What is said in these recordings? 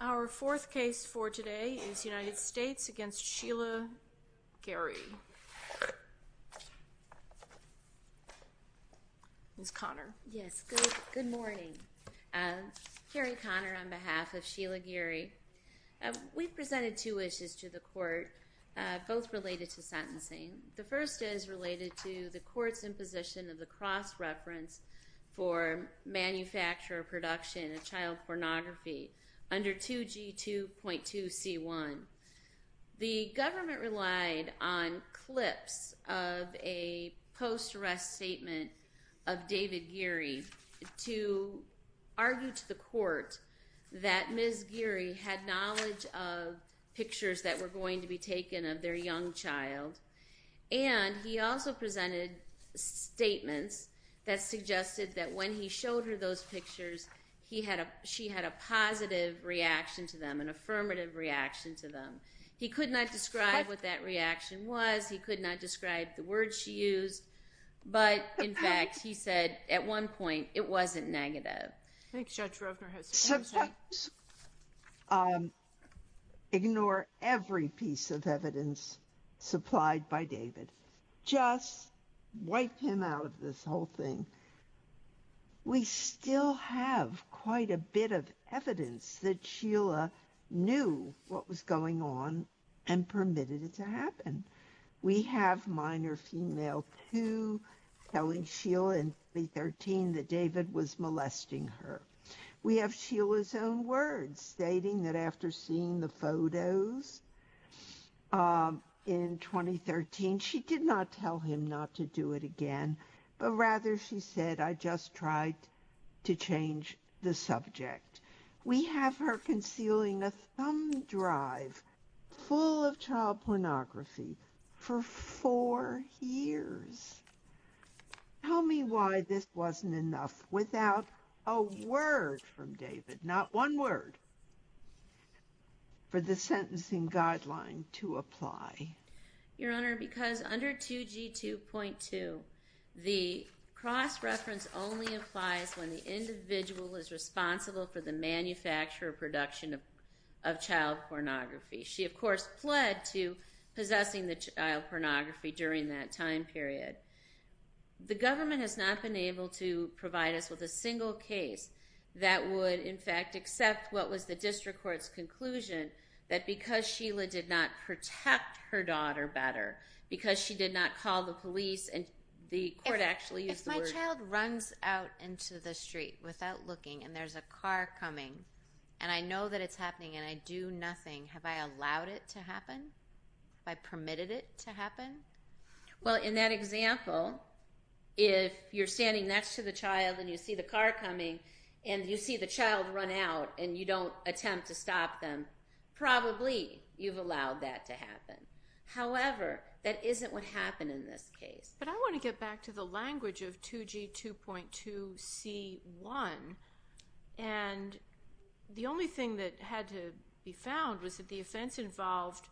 Our fourth case for today is United States v. Sheila Geary. Ms. Conner. Yes, good morning. Carrie Conner on behalf of Sheila Geary. We presented two issues to the court, both related to sentencing. The first is related to the court's imposition of the cross-reference for manufacturer production of child pornography under 2G2.2C1. The government relied on clips of a post-arrest statement of David Geary to argue to the court that they were going to be taken of their young child. And he also presented statements that suggested that when he showed her those pictures, she had a positive reaction to them, an affirmative reaction to them. He could not describe what that reaction was. He could not describe the words she used. But, in fact, he said at one point it wasn't negative. Ignore every piece of evidence supplied by David. Just wipe him out of this whole thing. We still have quite a bit of evidence that Sheila knew what was going on and permitted it to her. We have Sheila's own words stating that after seeing the photos in 2013, she did not tell him not to do it again, but rather she said, I just tried to change the subject. We have her concealing a thumb drive full of child pornography for four years. Tell me why this wasn't enough without a word from David, not one word, for the sentencing guideline to apply. Your Honor, because under 2G2.2, the cross-reference only applies when the individual is responsible for the manufacture or production of child pornography. She, of course, pled to possessing the child pornography during that time period. The government has not been able to provide us with a single case that would, in fact, accept what was the district court's conclusion that because Sheila did not protect her daughter better, because she did not call the police and the court actually used the word... and I know that it's happening and I do nothing. Have I allowed it to happen? Have I permitted it to happen? Well, in that example, if you're standing next to the child and you see the car coming and you see the child run out and you don't attempt to stop them, probably you've allowed that to happen. However, that isn't what 2G2.2c1, and the only thing that had to be found was that the offense involved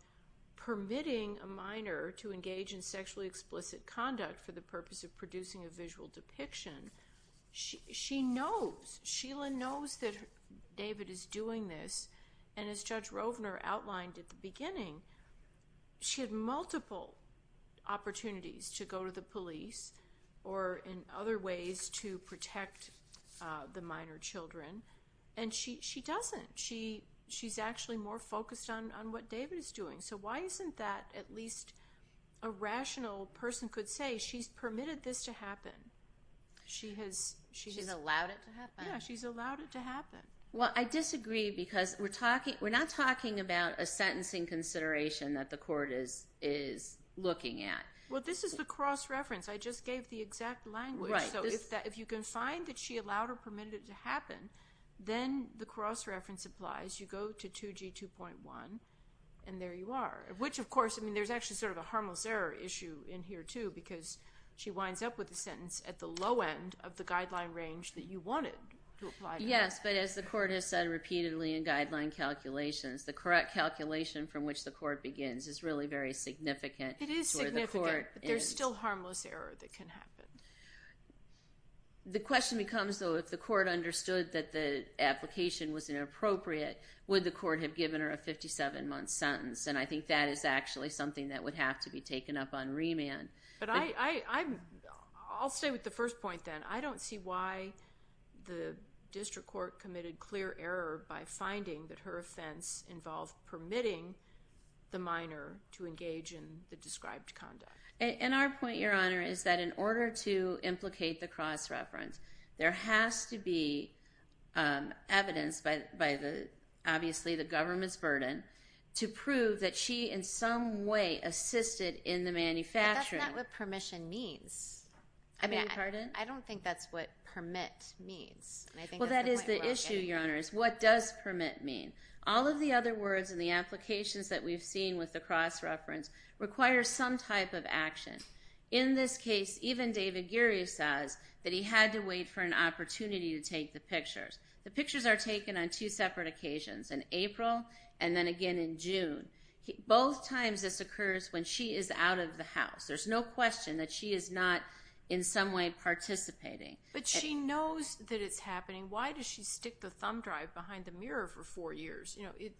permitting a minor to engage in sexually explicit conduct for the purpose of producing a visual depiction. She knows, Sheila knows that David is doing this, and as Judge Rovner outlined at the beginning, she had multiple opportunities to go to the police or in other ways to protect the minor children, and she doesn't. She's actually more focused on what David is doing, so why isn't that at least a rational person could say she's permitted this to happen? She's allowed it to happen? Yeah, she's allowed it to happen. Well, I disagree because we're not talking about a sentencing consideration that the court is looking at. Well, this is the cross-reference. I just gave the exact language, so if you can find that she allowed or permitted it to happen, then the cross-reference applies. You go to 2G2.1, and there you are. Which, of course, I mean, there's actually sort of a harmless error issue in here, too, because she winds up with a sentence at the low end of the guideline range that you wanted to apply. Yes, but as the court has said repeatedly in guideline calculations, the correct calculation from which the court begins is really very significant for the court. But there's still harmless error that can happen. The question becomes, though, if the court understood that the application was inappropriate, would the court have given her a 57-month sentence? And I think that is actually something that would have to be taken up on remand. But I'll stay with the first point, then. I don't see why the district court committed clear error by finding that her offense involved permitting the minor to engage in the described conduct. And our point, Your Honor, is that in order to implicate the cross-reference, there has to be evidence by obviously the government's burden to prove that she in some way assisted in the manufacturing. But that's not what permission means. I beg your pardon? I don't think that's what permit means. Well, that is the issue, Your Honor, is what does permit mean? All of the other words in the applications that we've seen with the cross-reference require some type of action. In this case, even David Geary says that he had to wait for an opportunity to take the pictures. The pictures are taken on two separate occasions, in April and then again in June. Both times this occurs when she is out of the house. There's no question that she is not in some way participating. But she knows that it's happening. Why does she stick the thumb drive behind the mirror for four years? You know,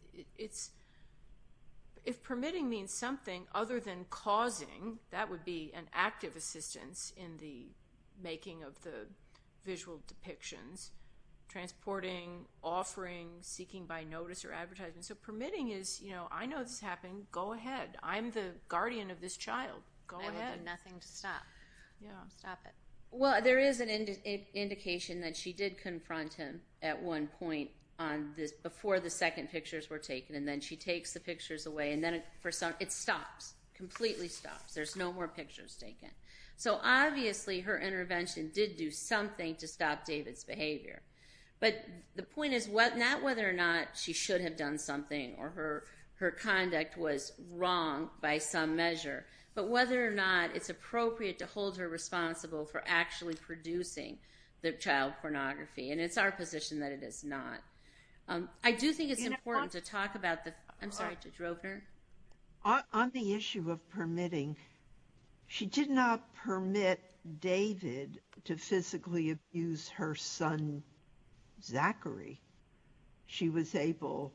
if permitting means something other than causing, that would be an active assistance in the making of the visual depictions, transporting, offering, seeking by notice or advertisement. So permitting is, you know, I know this happened. Go ahead. I'm the guardian of this child. Go ahead. I have nothing to stop. Stop it. Well, there is an indication that she did confront him at one point before the second pictures were taken. And then she takes the pictures away. And then it stops, completely stops. There's no more pictures taken. So obviously her intervention did do something to stop David's behavior. But the point is not whether or not she should have done something or her conduct was wrong by some measure, but whether or not it's appropriate to hold her responsible for actually producing the child pornography. And it's our position that it is not. I do think it's important to talk about the – I'm sorry, Judge Ropener. On the issue of permitting, she did not permit David to physically abuse her son, Zachary. She was able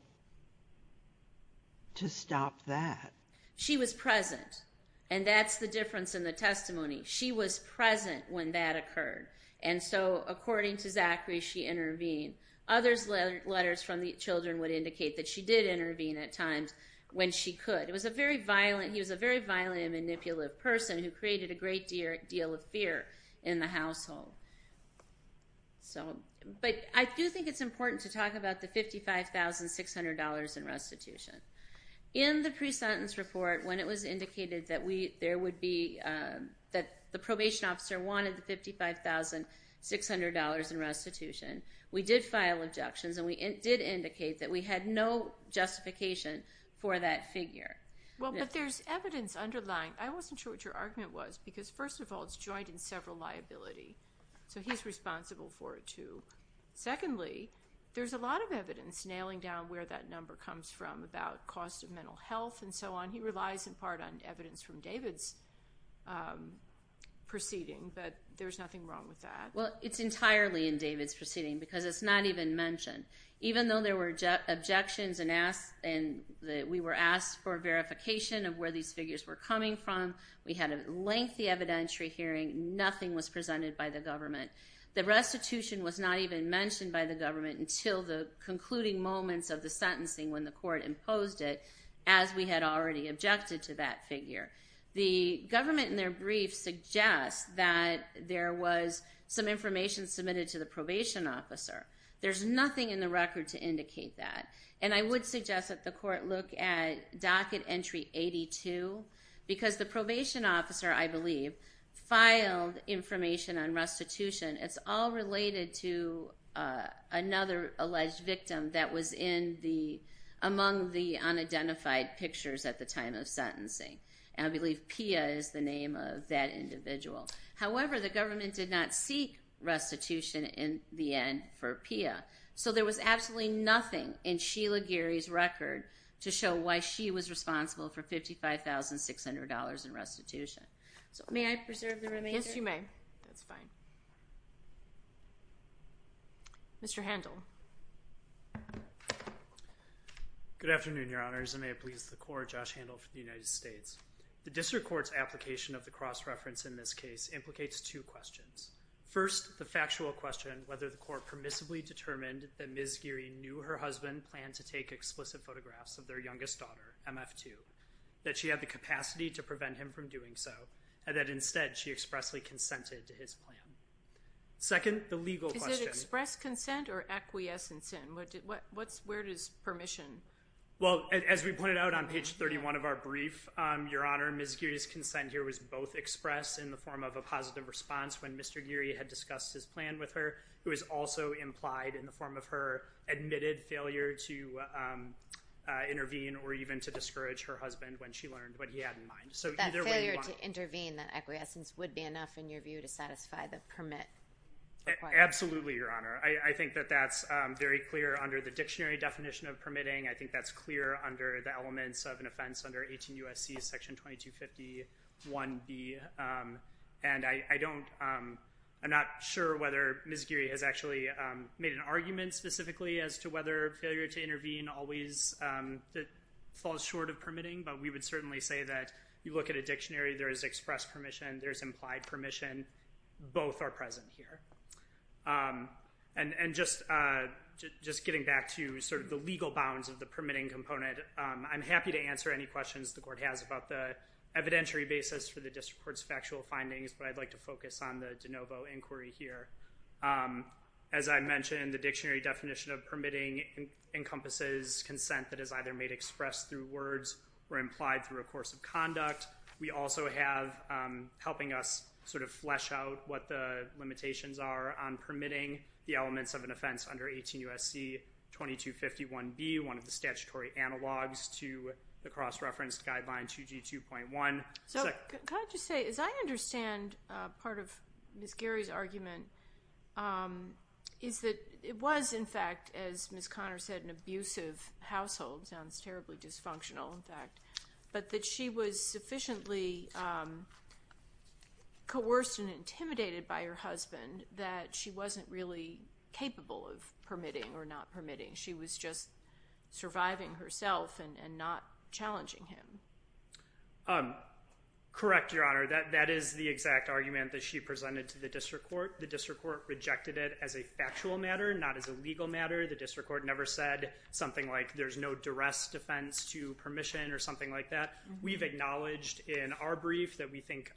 to stop that. She was present. And that's the difference in the testimony. She was present when that occurred. And so according to Zachary, she intervened. Others' letters from the children would indicate that she did intervene at times when she could. He was a very violent and manipulative person who created a great deal of fear in the household. But I do think it's important to talk about the $55,600 in restitution. In the pre-sentence report, when it was indicated that we – there would be – that the probation officer wanted the $55,600 in restitution, we did file objections and we did indicate that we had no justification for that figure. Well, but there's evidence underlying. I wasn't sure what your argument was because, first of all, it's joined in several liability. So he's responsible for it, too. Secondly, there's a lot of evidence nailing down where that number comes from about cost of mental health and so on. He relies in part on evidence from David's proceeding, but there's nothing wrong with that. Well, it's entirely in David's proceeding because it's not even mentioned. Even though there were objections and we were asked for verification of where these figures were coming from, we had a lengthy evidentiary hearing, nothing was presented by the government. The restitution was not even mentioned by the government until the concluding moments of the sentencing when the court imposed it, as we had already objected to that figure. The government in their brief suggests that there was some information submitted to the probation officer. There's nothing in the record to indicate that. And I would suggest that the court look at docket entry 82 because the probation officer, I believe, filed information on restitution. It's all related to another alleged victim that was among the unidentified pictures at the time of sentencing. I believe Pia is the name of that individual. However, the government did not seek restitution in the end for Pia. So there was absolutely nothing in Sheila Geary's record to show why she was responsible for $55,600 in restitution. So may I preserve the remainder? Yes, you may. That's fine. Mr. Handel. Good afternoon, Your Honors, and may it please the Court, Josh Handel for the United States. The district court's application of the cross-reference in this case implicates two questions. First, the factual question, whether the court permissibly determined that Ms. Geary knew her husband planned to take explicit photographs of their youngest daughter, MF2, that she had the capacity to prevent him from doing so, and that instead she expressly consented to his plan. Second, the legal question. Is it express consent or acquiescence? Where is permission? Well, as we pointed out on page 31 of our brief, Your Honor, Ms. Geary's consent here was both expressed in the form of a positive response when Mr. Geary had discussed his plan with her. It was also implied in the form of her admitted failure to intervene or even to discourage her husband when she learned what he had in mind. So either way you want to go. That failure to intervene, that acquiescence, would be enough in your view to satisfy the permit? Absolutely, Your Honor. I think that that's very clear under the dictionary definition of permitting. I think that's clear under the elements of an offense under 18 U.S.C. Section 2250.1b. And I don't ‑‑ I'm not sure whether Ms. Geary has actually made an argument specifically as to whether failure to intervene always falls short of permitting, but we would certainly say that you look at a dictionary. There is expressed permission. There is implied permission. Both are present here. And just getting back to sort of the legal bounds of the permitting component, I'm happy to answer any questions the court has about the evidentiary basis for the district court's factual findings, but I'd like to focus on the de novo inquiry here. As I mentioned, the dictionary definition of permitting encompasses consent that is either made expressed through words or implied through a course of conduct. We also have, helping us sort of flesh out what the limitations are on permitting, the elements of an offense under 18 U.S.C. 2250.1b, one of the statutory analogs to the cross‑referenced guideline 2G2.1. So can I just say, as I understand part of Ms. Geary's argument, is that it was, in fact, as Ms. Conner said, an abusive household. Sounds terribly dysfunctional, in fact. But that she was sufficiently coerced and intimidated by her husband that she wasn't really capable of permitting or not permitting. She was just surviving herself and not challenging him. Correct, Your Honor. That is the exact argument that she presented to the district court. The district court rejected it as a factual matter, not as a legal matter. The district court never said something like there's no duress defense to permission or something like that. We've acknowledged in our brief that we think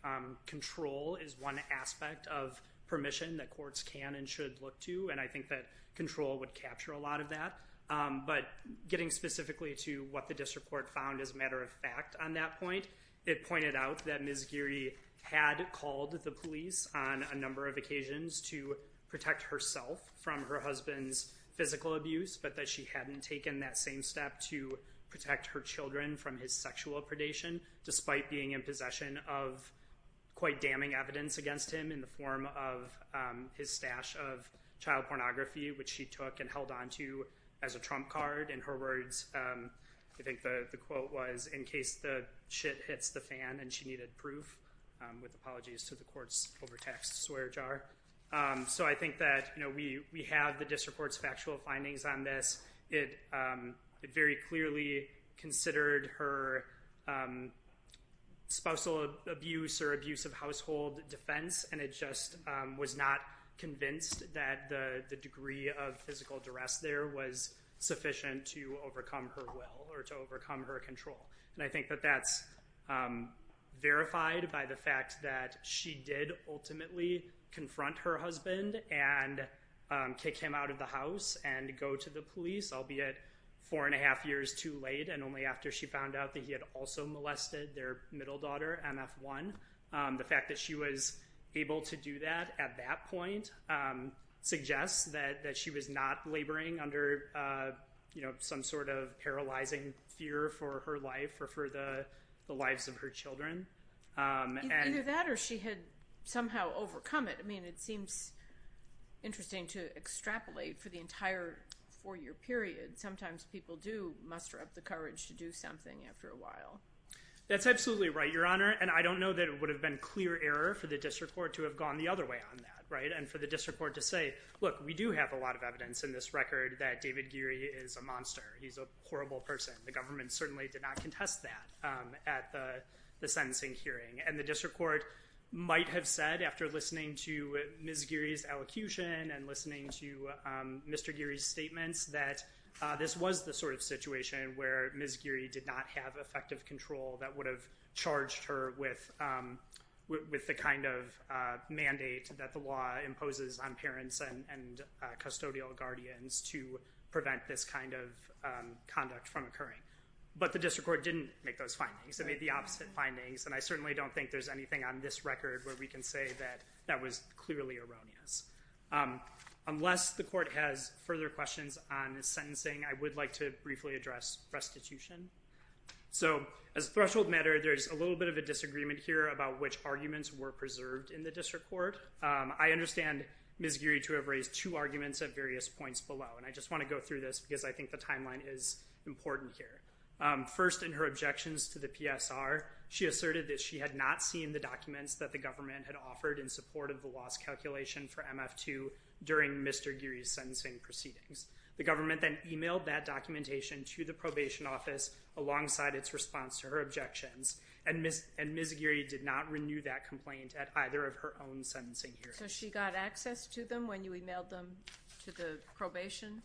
control is one aspect of permission that courts can and should look to. And I think that control would capture a lot of that. But getting specifically to what the district court found as a matter of fact on that point, it pointed out that Ms. Geary had called the police on a number of occasions to protect herself from her husband's physical abuse, but that she hadn't taken that same step to protect her children from his sexual predation, despite being in possession of quite damning evidence against him in the form of his stash of child pornography, which she took and held onto as a trump card. In her words, I think the quote was, in case the shit hits the fan and she needed proof, with apologies to the court's overtaxed swear jar. So I think that we have the district court's factual findings on this. It very clearly considered her spousal abuse or abuse of household defense, and it just was not convinced that the degree of physical duress there was sufficient to overcome her will or to overcome her control. And I think that that's verified by the fact that she did ultimately confront her husband and kick him out of the house and go to the police, albeit four and a half years too late, and only after she found out that he had also molested their middle daughter, MF1. The fact that she was able to do that at that point suggests that she was not laboring under some sort of paralyzing fear for her life or for the lives of her children. Either that or she had somehow overcome it. I mean, it seems interesting to extrapolate for the entire four-year period. Sometimes people do muster up the courage to do something after a while. That's absolutely right, Your Honor, and I don't know that it would have been clear error for the district court to have gone the other way on that, right, and for the district court to say, look, we do have a lot of evidence in this record that David Geary is a monster. He's a horrible person. The government certainly did not contest that at the sentencing hearing, and the district court might have said after listening to Ms. Geary's elocution and listening to Mr. Geary's statements that this was the sort of situation where Ms. Geary did not have effective control that would have charged her with the kind of mandate that the law imposes on parents and custodial guardians to prevent this kind of conduct from occurring. But the district court didn't make those findings. It made the opposite findings, and I certainly don't think there's anything on this record where we can say that that was clearly erroneous. Unless the court has further questions on the sentencing, I would like to briefly address restitution. So as a threshold matter, there's a little bit of a disagreement here about which arguments were preserved in the district court. I understand Ms. Geary to have raised two arguments at various points below, and I just want to go through this because I think the timeline is important here. First, in her objections to the PSR, she asserted that she had not seen the documents that the government had offered in support of the loss calculation for MF2 during Mr. Geary's sentencing proceedings. The government then emailed that documentation to the probation office alongside its response to her objections, and Ms. Geary did not renew that complaint at either of her own sentencing hearings. So she got access to them when you emailed them to the probation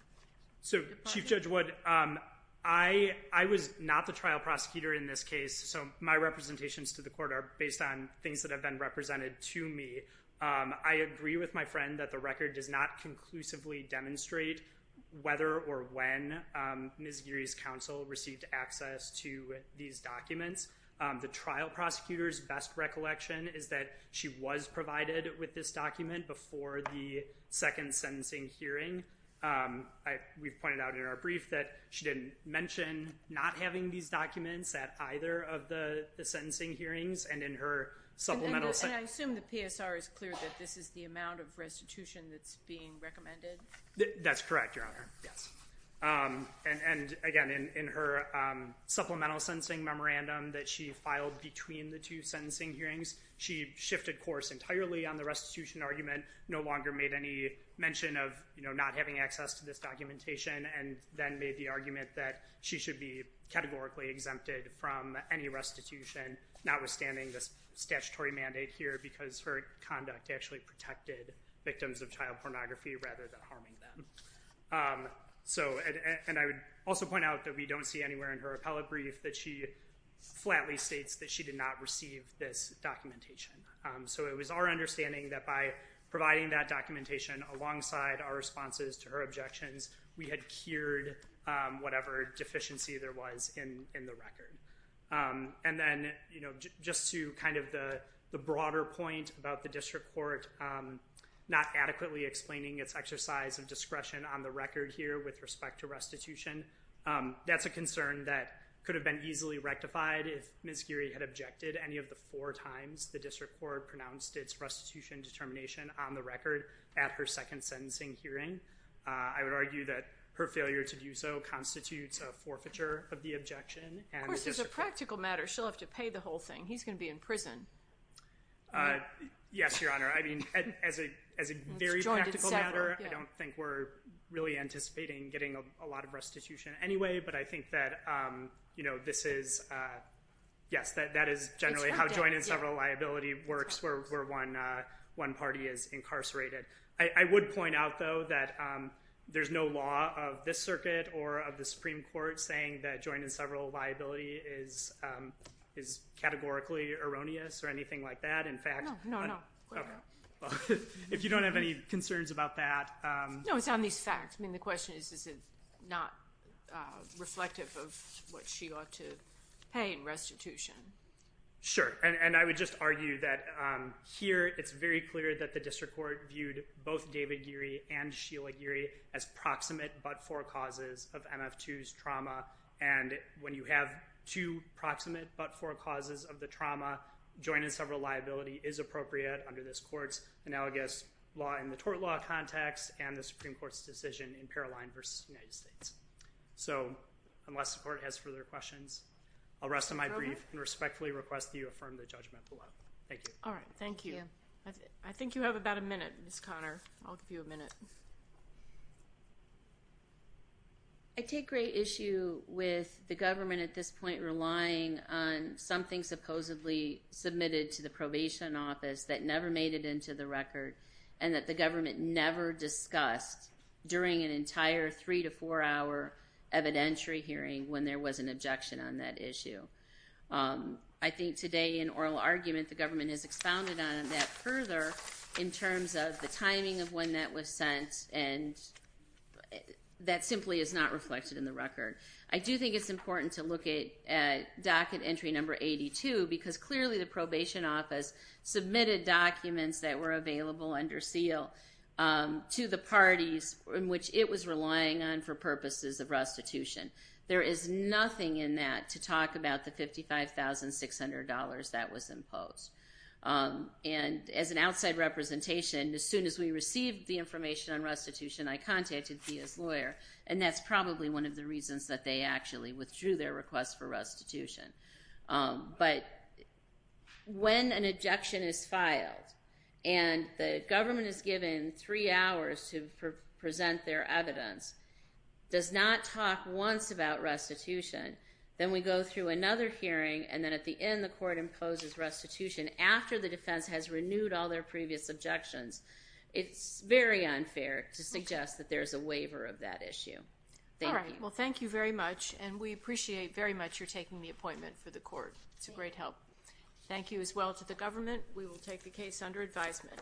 department? Chief Judge Wood, I was not the trial prosecutor in this case, so my representations to the court are based on things that have been represented to me. I agree with my friend that the record does not conclusively demonstrate whether or when Ms. Geary's counsel received access to these documents. The trial prosecutor's best recollection is that she was provided with this document before the second sentencing hearing. We've pointed out in our brief that she didn't mention not having these documents at either of the sentencing hearings and in her supplemental sentence. And I assume the PSR is clear that this is the amount of restitution that's being recommended? That's correct, Your Honor, yes. And, again, in her supplemental sentencing memorandum that she filed between the two sentencing hearings, she shifted course entirely on the restitution argument, no longer made any mention of not having access to this documentation and then made the argument that she should be categorically exempted from any restitution, notwithstanding this statutory mandate here because her conduct actually protected victims of child pornography rather than harming them. And I would also point out that we don't see anywhere in her appellate brief that she flatly states that she did not receive this documentation. So it was our understanding that by providing that documentation alongside our responses to her objections, we had cured whatever deficiency there was in the record. And then just to kind of the broader point about the district court not adequately explaining its exercise of discretion on the record here with respect to restitution, that's a concern that could have been easily rectified if Ms. Geary had objected any of the four times the district court pronounced its restitution determination on the record at her second sentencing hearing. I would argue that her failure to do so constitutes a forfeiture of the objection. Of course, there's a practical matter. She'll have to pay the whole thing. He's going to be in prison. Yes, Your Honor. I mean, as a very practical matter, I don't think we're really anticipating getting a lot of restitution anyway, but I think that, you know, this is, yes, that is generally how joint and several liability works where one party is incarcerated. I would point out, though, that there's no law of this circuit or of the Supreme Court saying that joint and several liability is categorically erroneous or anything like that. In fact, if you don't have any concerns about that. No, it's on these facts. I mean, the question is, is it not reflective of what she ought to pay in restitution? Sure, and I would just argue that here it's very clear that the district court viewed both David Geary and Sheila Geary as proximate but forecauses of MF2's trauma, and when you have two proximate but forecauses of the trauma, joint and several liability is appropriate under this court's analogous law in the tort law context and the Supreme Court's decision in Paroline v. United States. So unless the court has further questions, I'll rest on my brief and respectfully request that you affirm the judgment below. Thank you. All right. Thank you. I think you have about a minute, Ms. Conner. I'll give you a minute. I take great issue with the government at this point relying on something supposedly submitted to the probation office that never made it into the record and that the government never discussed during an entire three- to four-hour evidentiary hearing when there was an objection on that issue. I think today in oral argument the government has expounded on that further in terms of the timing of when that was sent, and that simply is not reflected in the record. I do think it's important to look at docket entry number 82 because clearly the probation office submitted documents that were available under seal to the parties in which it was relying on for purposes of restitution. There is nothing in that to talk about the $55,600 that was imposed. And as an outside representation, as soon as we received the information on restitution, I contacted Thea's lawyer, and that's probably one of the reasons that they actually withdrew their request for restitution. But when an objection is filed and the government is given three hours to present their evidence, does not talk once about restitution, then we go through another hearing, and then at the end the court imposes restitution after the defense has renewed all their previous objections. It's very unfair to suggest that there's a waiver of that issue. Thank you. All right. Well, thank you very much, and we appreciate very much your taking the appointment for the court. It's a great help. Thank you as well to the government. We will take the case under advisement.